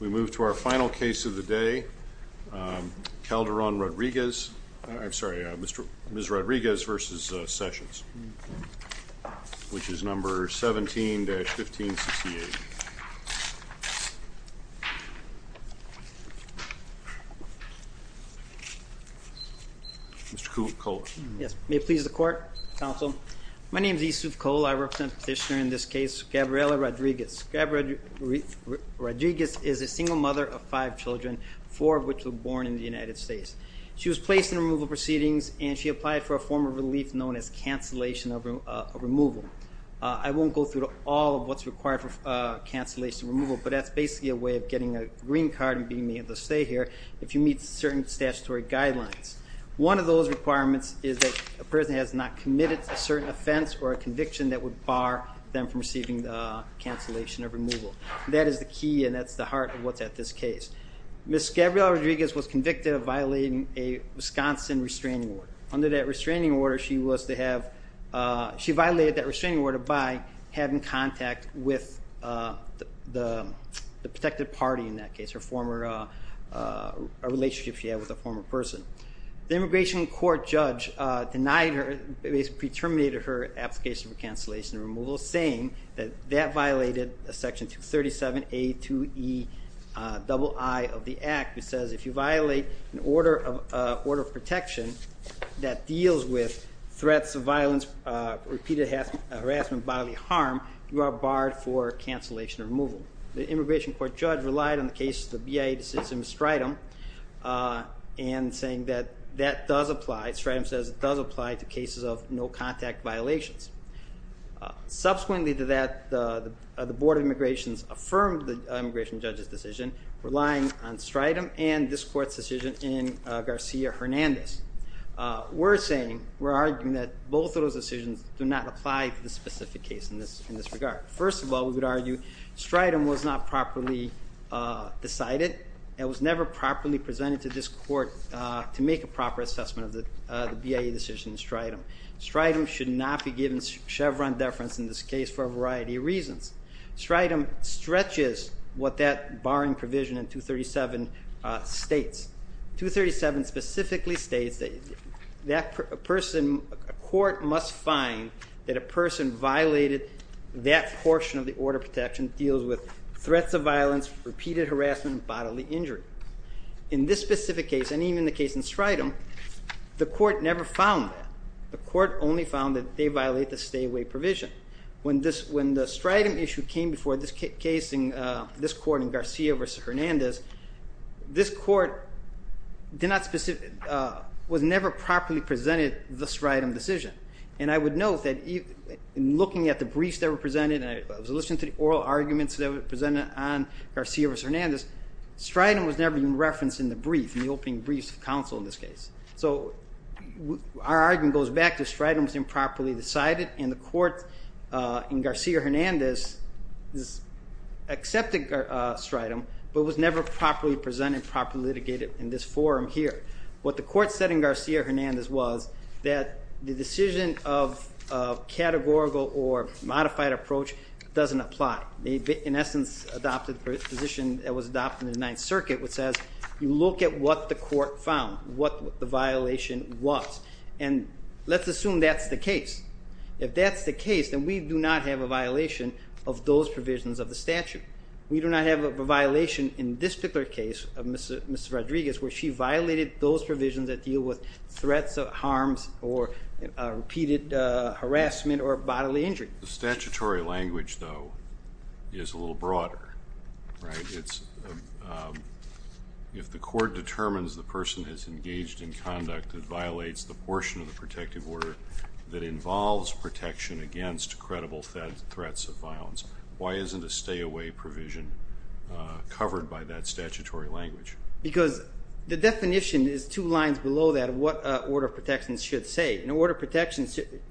We move to our final case of the day. Calderon-Rodriguez, I'm sorry, Ms. Rodriguez v. Sessions, which is number 17-1568. Mr. Kola. Yes, may it please the court, counsel. My name is Yusuf Kola. I represent petitioner in this case, Gabriela Rodriguez. Gabriela Rodriguez is a single mother of five children, four of which were born in the United States. She was placed in removal proceedings and she applied for a form of relief known as cancellation of removal. I won't go through all of what's required for cancellation removal but that's basically a way of getting a green card and being able to stay here if you meet certain statutory guidelines. One of those requirements is that a person has not committed a certain offense or a conviction that would bar them from receiving the cancellation of removal. That is the key and that's the heart of what's at this case. Ms. Gabriela Rodriguez was convicted of violating a Wisconsin restraining order. Under that restraining order, she violated that restraining order by having contact with the protected party in that case, a relationship she had with a former person. The immigration court judge denied her, pre-terminated her application for cancellation removal, saying that that violated section 237A to E double I of the Act, which says if you violate an order of protection that deals with threats of violence, repeated harassment, bodily harm, you are barred for cancellation removal. The immigration court judge relied on the case of the BIA decision of Stratham and saying that does apply, Stratham says it does apply to cases of no contact violations. Subsequently to that, the Board of Immigrations affirmed the immigration judge's decision, relying on Stratham and this court's decision in Garcia Hernandez. We're saying, we're arguing that both of those decisions do not apply to the specific case in this regard. First of all, we would argue Stratham was not properly decided and was never properly presented to this court to make a proper assessment of the BIA decision in Stratham. Stratham should not be given Chevron deference in this case for a variety of reasons. Stratham stretches what that barring provision in 237 states. 237 specifically states that a court must find that a person violated that portion of the order protection deals with threats of violence, repeated harassment, bodily injury. In this specific case, and even the case in Stratham, the court never found that. The court only found that they violate the stay away provision. When the Stratham issue came before this case in this court in Garcia vs. Hernandez, this court did not specifically, was never properly presented the Stratham decision. And I would note that in looking at the briefs that were presented, and I was listening to the oral arguments that were presented on Stratham was never even referenced in the brief, in the opening briefs of counsel in this case. So our argument goes back to Stratham was improperly decided and the court in Garcia vs. Hernandez accepted Stratham but was never properly presented, properly litigated in this forum here. What the court said in Garcia vs. Hernandez was that the decision of categorical or modified approach doesn't apply. They in the position that was adopted in the Ninth Circuit which says you look at what the court found, what the violation was, and let's assume that's the case. If that's the case then we do not have a violation of those provisions of the statute. We do not have a violation in this particular case of Mrs. Rodriguez where she violated those provisions that deal with threats of harms or repeated harassment or bodily injury. The statutory language though is a little broader. If the court determines the person has engaged in conduct that violates the portion of the protective order that involves protection against credible threats of violence, why isn't a stay-away provision covered by that statutory language? Because the definition is two lines below that of what order of protection should say. An order of protection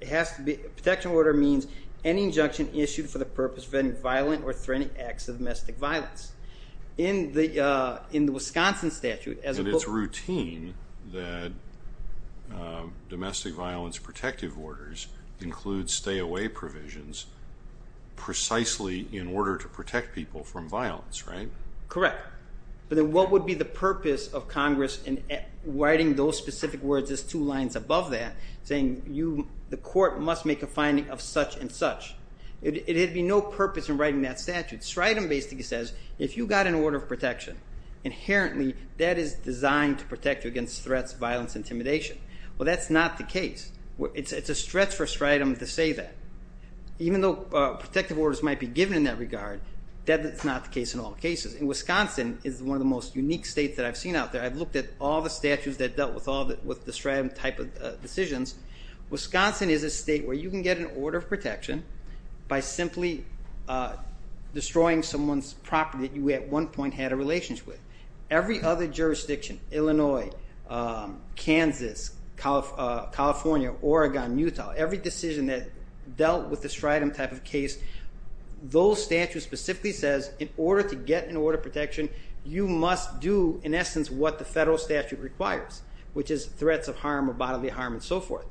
has to be, protection order means any injunction issued for the purpose of any violent or domestic violence. In the Wisconsin statute... And it's routine that domestic violence protective orders include stay-away provisions precisely in order to protect people from violence, right? Correct. But then what would be the purpose of Congress in writing those specific words as two lines above that saying the court must make a finding of such-and-such. It had be no purpose in writing that statute. Stratum basically says if you got an order of protection, inherently that is designed to protect you against threats, violence, intimidation. Well that's not the case. It's a stretch for Stratum to say that. Even though protective orders might be given in that regard, that's not the case in all cases. In Wisconsin is one of the most unique states that I've seen out there. I've looked at all the statutes that dealt with all that with the Stratum type of decisions. Wisconsin is a state where you can get an order of protection for destroying someone's property that you at one point had a relationship with. Every other jurisdiction, Illinois, Kansas, California, Oregon, Utah, every decision that dealt with the Stratum type of case, those statutes specifically says in order to get an order of protection, you must do in essence what the federal statute requires, which is threats of harm or bodily harm and so forth.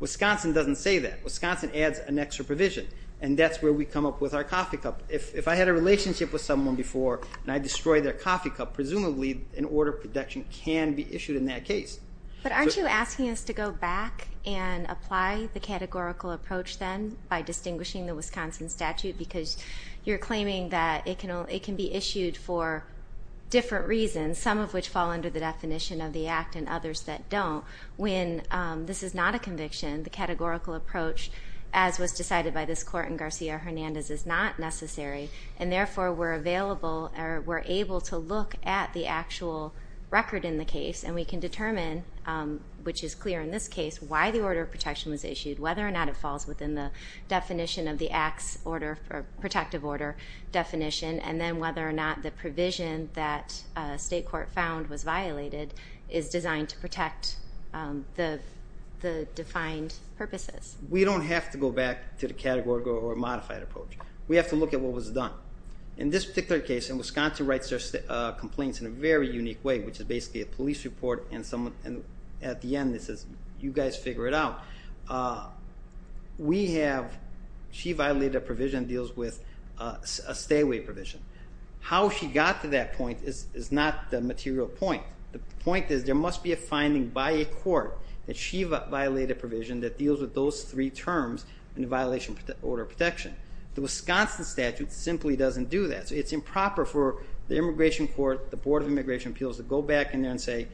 Wisconsin doesn't say that. Wisconsin adds an extra provision and that's where we come up with our coffee cup. If I had a relationship with someone before and I destroyed their coffee cup, presumably an order of protection can be issued in that case. But aren't you asking us to go back and apply the categorical approach then by distinguishing the Wisconsin statute because you're claiming that it can be issued for different reasons, some of which fall under the definition of the act and others that don't. When this is not a conviction, the categorical approach, as was decided by this court in Garcia-Hernandez, is not necessary and therefore we're available or we're able to look at the actual record in the case and we can determine, which is clear in this case, why the order of protection was issued, whether or not it falls within the definition of the acts order for protective order definition, and then whether or not the provision that state court found was the defined purposes. We don't have to go back to the categorical or modified approach. We have to look at what was done. In this particular case, in Wisconsin writes their complaints in a very unique way, which is basically a police report and at the end it says you guys figure it out. We have, she violated a provision that deals with a stay-away provision. How she got to that point is not the material point. The point is there must be a finding by a court that she violated a provision that deals with those three terms in the violation of the order of protection. The Wisconsin statute simply doesn't do that. So it's improper for the immigration court, the Board of Immigration Appeals, to go back in there and say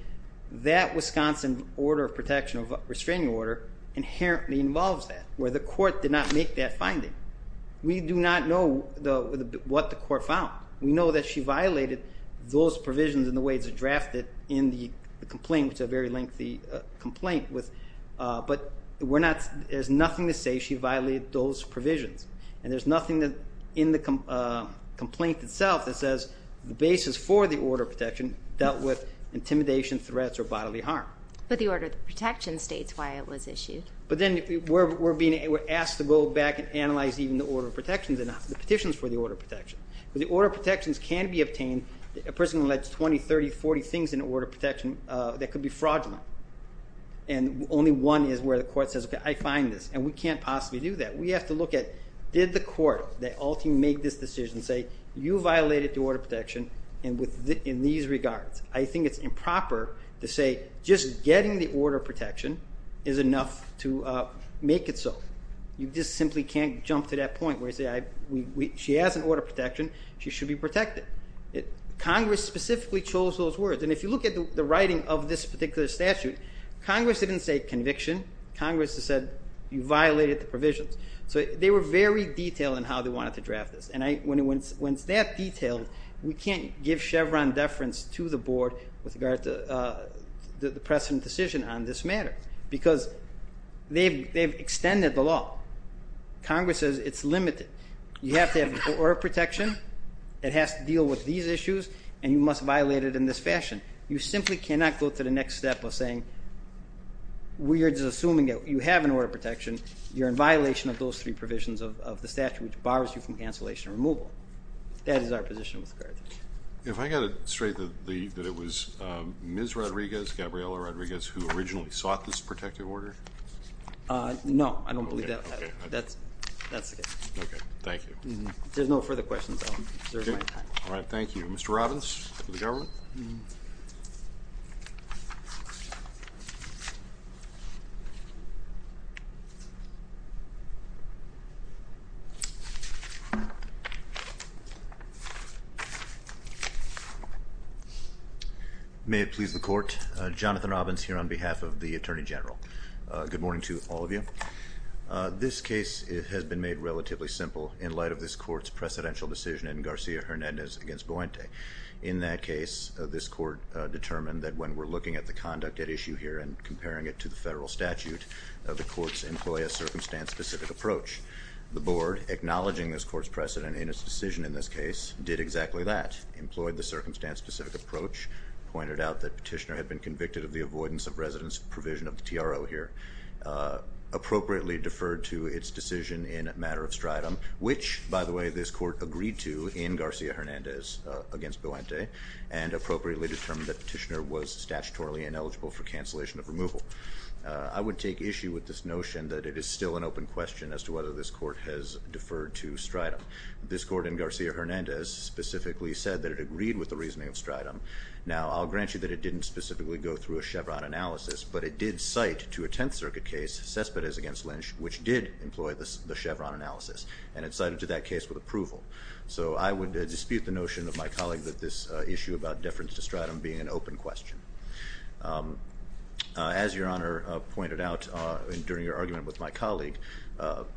that Wisconsin order of protection of restraining order inherently involves that, where the court did not make that finding. We do not know what the court found. We know that she violated those provisions in the way it's drafted in the complaint, which is a very lengthy complaint. But we're not, there's nothing to say she violated those provisions, and there's nothing in the complaint itself that says the basis for the order of protection dealt with intimidation, threats, or bodily harm. But the order of protection states why it was issued. But then we're being asked to go back and analyze even the order of protection. The order of protections can be obtained, a person alleged 20, 30, 40 things in order of protection that could be fraudulent. And only one is where the court says, okay, I find this. And we can't possibly do that. We have to look at, did the court that ultimately made this decision say, you violated the order of protection in these regards. I think it's improper to say just getting the order of protection is enough to make it so. You just simply can't jump to that point where you say, she has an order of protection, she should be protected. Congress specifically chose those words. And if you look at the writing of this particular statute, Congress didn't say conviction. Congress has said you violated the provisions. So they were very detailed in how they wanted to draft this. And when it's that detailed, we can't give Chevron deference to the board with regards to the precedent decision on this matter. Because they've extended the law. Congress says it's limited. You have to have order of protection, it has to deal with these issues, and you must violate it in this fashion. You simply cannot go to the next step of saying, we're assuming that you have an order of protection, you're in violation of those three provisions of the statute which bars you from cancellation removal. That is our position with regard to that. If I got it straight that it was Ms. Rodriguez, Gabriella Rodriguez, who originally sought this protective order? No, I don't believe that. That's okay. Okay, thank you. There's no further questions. All right, thank you. Mr. Robbins, for the government. May it please the court, Jonathan Robbins here on behalf of the Attorney General. Good morning to all of you. This case has been made relatively simple in light of this court's precedential decision in Garcia Hernandez against Buente. In that case, this court determined that when we're looking at the conduct at issue here and comparing it to the federal statute, the courts employ a circumstance-specific approach. The board, acknowledging this court's precedent in its decision in this case, did exactly that, employed the circumstance-specific approach, pointed out that Petitioner had been convicted of the avoidance of residence provision of the TRO here, appropriately deferred to its decision in a matter of stridum, which, by the way, this court agreed to in Garcia Hernandez against Buente, and appropriately determined that Petitioner was statutorily ineligible for cancellation of removal. I would take issue with this notion that it is still an open question as to whether this court has deferred to stridum. This court in Garcia Hernandez specifically said that it agreed with the reasoning of stridum. Now, I'll grant you that it didn't specifically go through a Chevron analysis, but it did cite to a Tenth Circuit case, Cespedes against Lynch, which did employ the Chevron analysis, and it cited to that case with approval. So I would dispute the notion of my colleague that this issue about deference to stridum being an open question. As Your Honor pointed out during your argument with my colleague,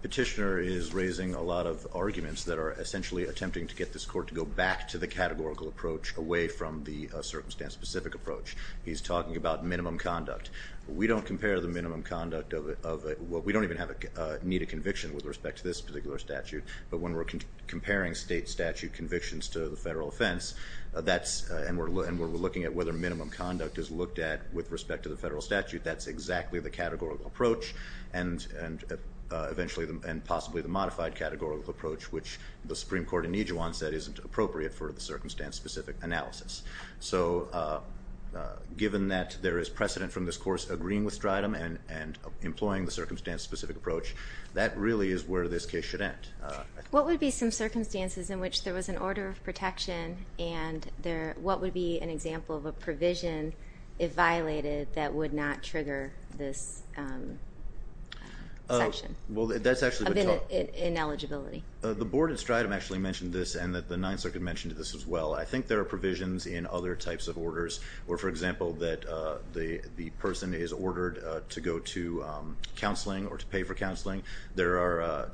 Petitioner is raising a lot of arguments that are essentially attempting to get this court to go back to the categorical approach away from the circumstance-specific approach. He's talking about minimum conduct. We don't compare the minimum conduct of it, well, we don't even have a need a conviction with respect to this particular statute, but when we're comparing state statute convictions to the federal offense, that's, and we're looking at whether minimum conduct is looked at with respect to the federal statute, that's exactly the categorical approach, and eventually, and possibly the modified categorical approach, which the Supreme Court in Ijuan said isn't appropriate for the circumstance-specific analysis. So given that there is precedent from this course agreeing with stridum and employing the circumstance-specific approach, that really is where this case should end. And what would be an example of a provision, if violated, that would not trigger this section of ineligibility? The board in stridum actually mentioned this, and that the Ninth Circuit mentioned this as well. I think there are provisions in other types of orders, or for example, that the person is ordered to go to counseling or to pay for counseling, there are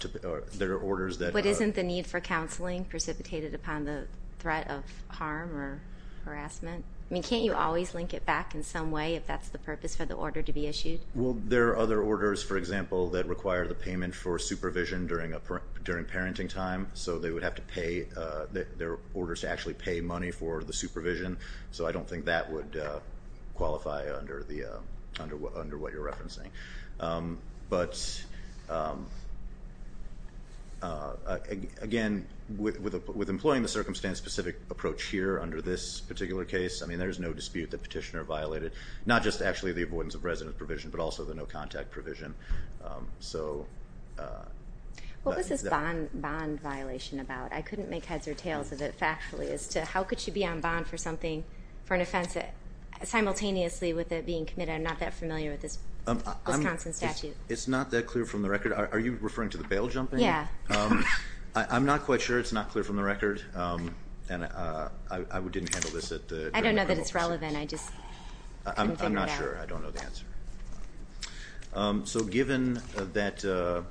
orders that... But isn't the need for counseling precipitated upon the threat of harm or harassment? I mean, can't you always link it back in some way if that's the purpose for the order to be issued? Well, there are other orders, for example, that require the payment for supervision during parenting time, so they would have to pay, there are orders to actually pay money for the supervision, so I don't think that would qualify under what you're referencing. But again, with employing the circumstance-specific approach here under this particular case, I mean, there's no dispute that petitioner violated, not just actually the avoidance of residence provision, but also the no contact provision. So... What was this bond violation about? I couldn't make heads or tails of it factually, as to how could she be on bond for something, for an offense that simultaneously with it being committed, I'm not that familiar with this Wisconsin statute. It's not that clear from the record. Are you referring to the bail jumping? Yeah. I'm not quite sure, it's not clear from the record, and I didn't handle this at the... I don't know that it's relevant, I just couldn't figure it out. I'm not sure, I don't know the answer. So given that the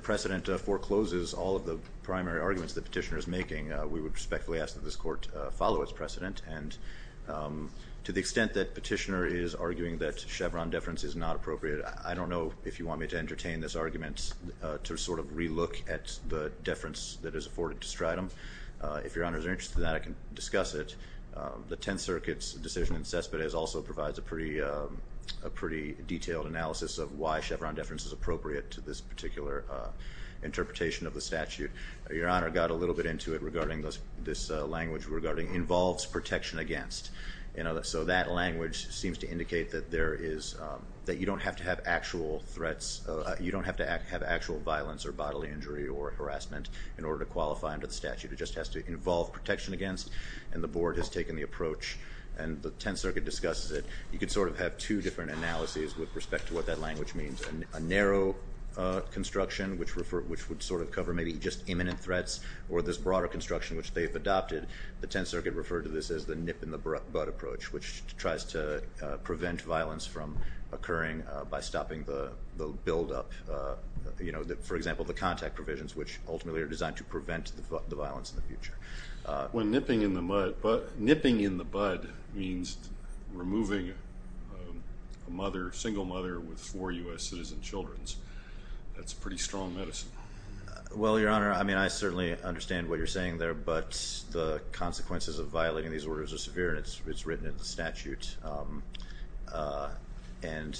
precedent forecloses all of the primary arguments the petitioner is making, we would respectfully ask that this court follow its precedent, and to the extent that petitioner is arguing that Chevron deference is not appropriate, I don't know if you want me to entertain this argument to sort of relook at the afforded distritum. If Your Honor is interested in that, I can discuss it. The Tenth Circuit's decision in Cespedes also provides a pretty detailed analysis of why Chevron deference is appropriate to this particular interpretation of the statute. Your Honor got a little bit into it regarding this this language regarding involves protection against, you know, so that language seems to indicate that there is, that you don't have to have actual threats, you don't have to have actual violence or bodily injury or harassment in order to qualify under the statute. It just has to involve protection against, and the board has taken the approach, and the Tenth Circuit discusses it. You could sort of have two different analyses with respect to what that language means, a narrow construction which would sort of cover maybe just imminent threats, or this broader construction which they've adopted. The Tenth Circuit referred to this as the nip-in-the-butt approach, which tries to prevent violence from occurring by stopping the build-up, you know, for example, the designed to prevent the violence in the future. When nipping in the mud, but nipping in the bud means removing a mother, single mother, with four U.S. citizen children. That's pretty strong medicine. Well, Your Honor, I mean, I certainly understand what you're saying there, but the consequences of violating these orders are severe, and it's written in the statute, and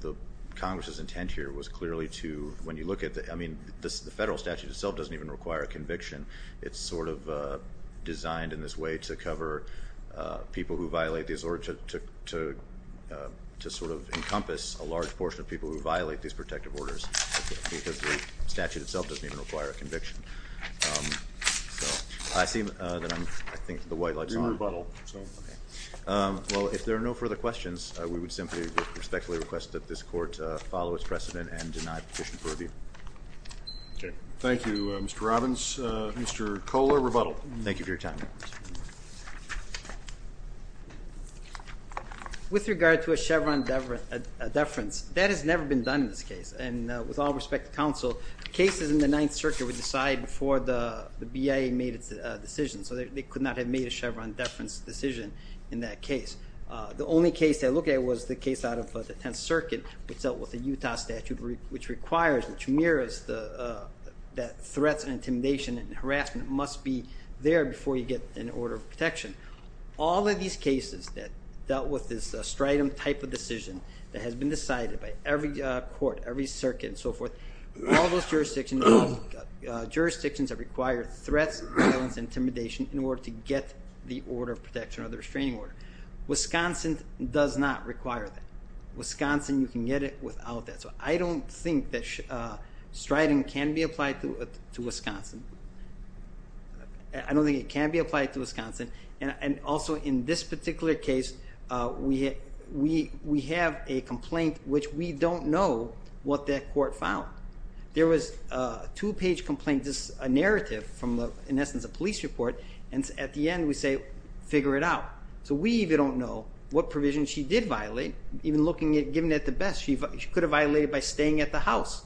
the Congress's intent here was clearly to, when you look at the, I mean, the federal statute itself doesn't even require a conviction. It's sort of designed in this way to cover people who violate these orders, to sort of encompass a large portion of people who violate these protective orders, because the statute itself doesn't even require a conviction. I see that I'm, I think the white light's on. Well, if there are no further questions, we would simply respectfully request that this court follow its precedent and deny petition for review. Okay. Thank you, Mr. Robbins. Mr. Kohler, rebuttal. Thank you for your time. With regard to a Chevron deference, that has never been done in this case, and with all respect to counsel, cases in the Ninth Circuit were decided before the BIA made its decision, so they could not have made a Chevron deference decision in that circuit, which dealt with the Utah statute, which requires, which mirrors that threats and intimidation and harassment must be there before you get an order of protection. All of these cases that dealt with this strident type of decision that has been decided by every court, every circuit, and so forth, all those jurisdictions have required threats, violence, intimidation in order to get the order of protection or the restraining order. Wisconsin does not require that. Wisconsin, you can get it without that. So I don't think that striding can be applied to Wisconsin. I don't think it can be applied to Wisconsin, and also in this particular case, we have a complaint which we don't know what that court found. There was a two-page complaint, just a narrative from, in essence, a police report, and at the end we say, figure it out. So we even don't know what provision she did violate, even looking at, giving it the best. She could have violated by staying at the house,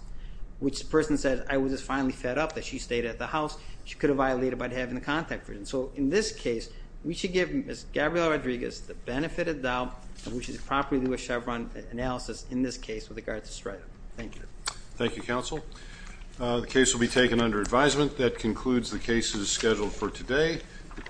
which the person says, I was just finally fed up that she stayed at the house. She could have violated by having the contact version. So in this case, we should give Ms. Gabrielle Rodriguez the benefit of the doubt, and we should properly do a Chevron analysis in this case with regards to strident. Thank you. Thank you, counsel. The case will be taken under advisement. That concludes the cases scheduled for today.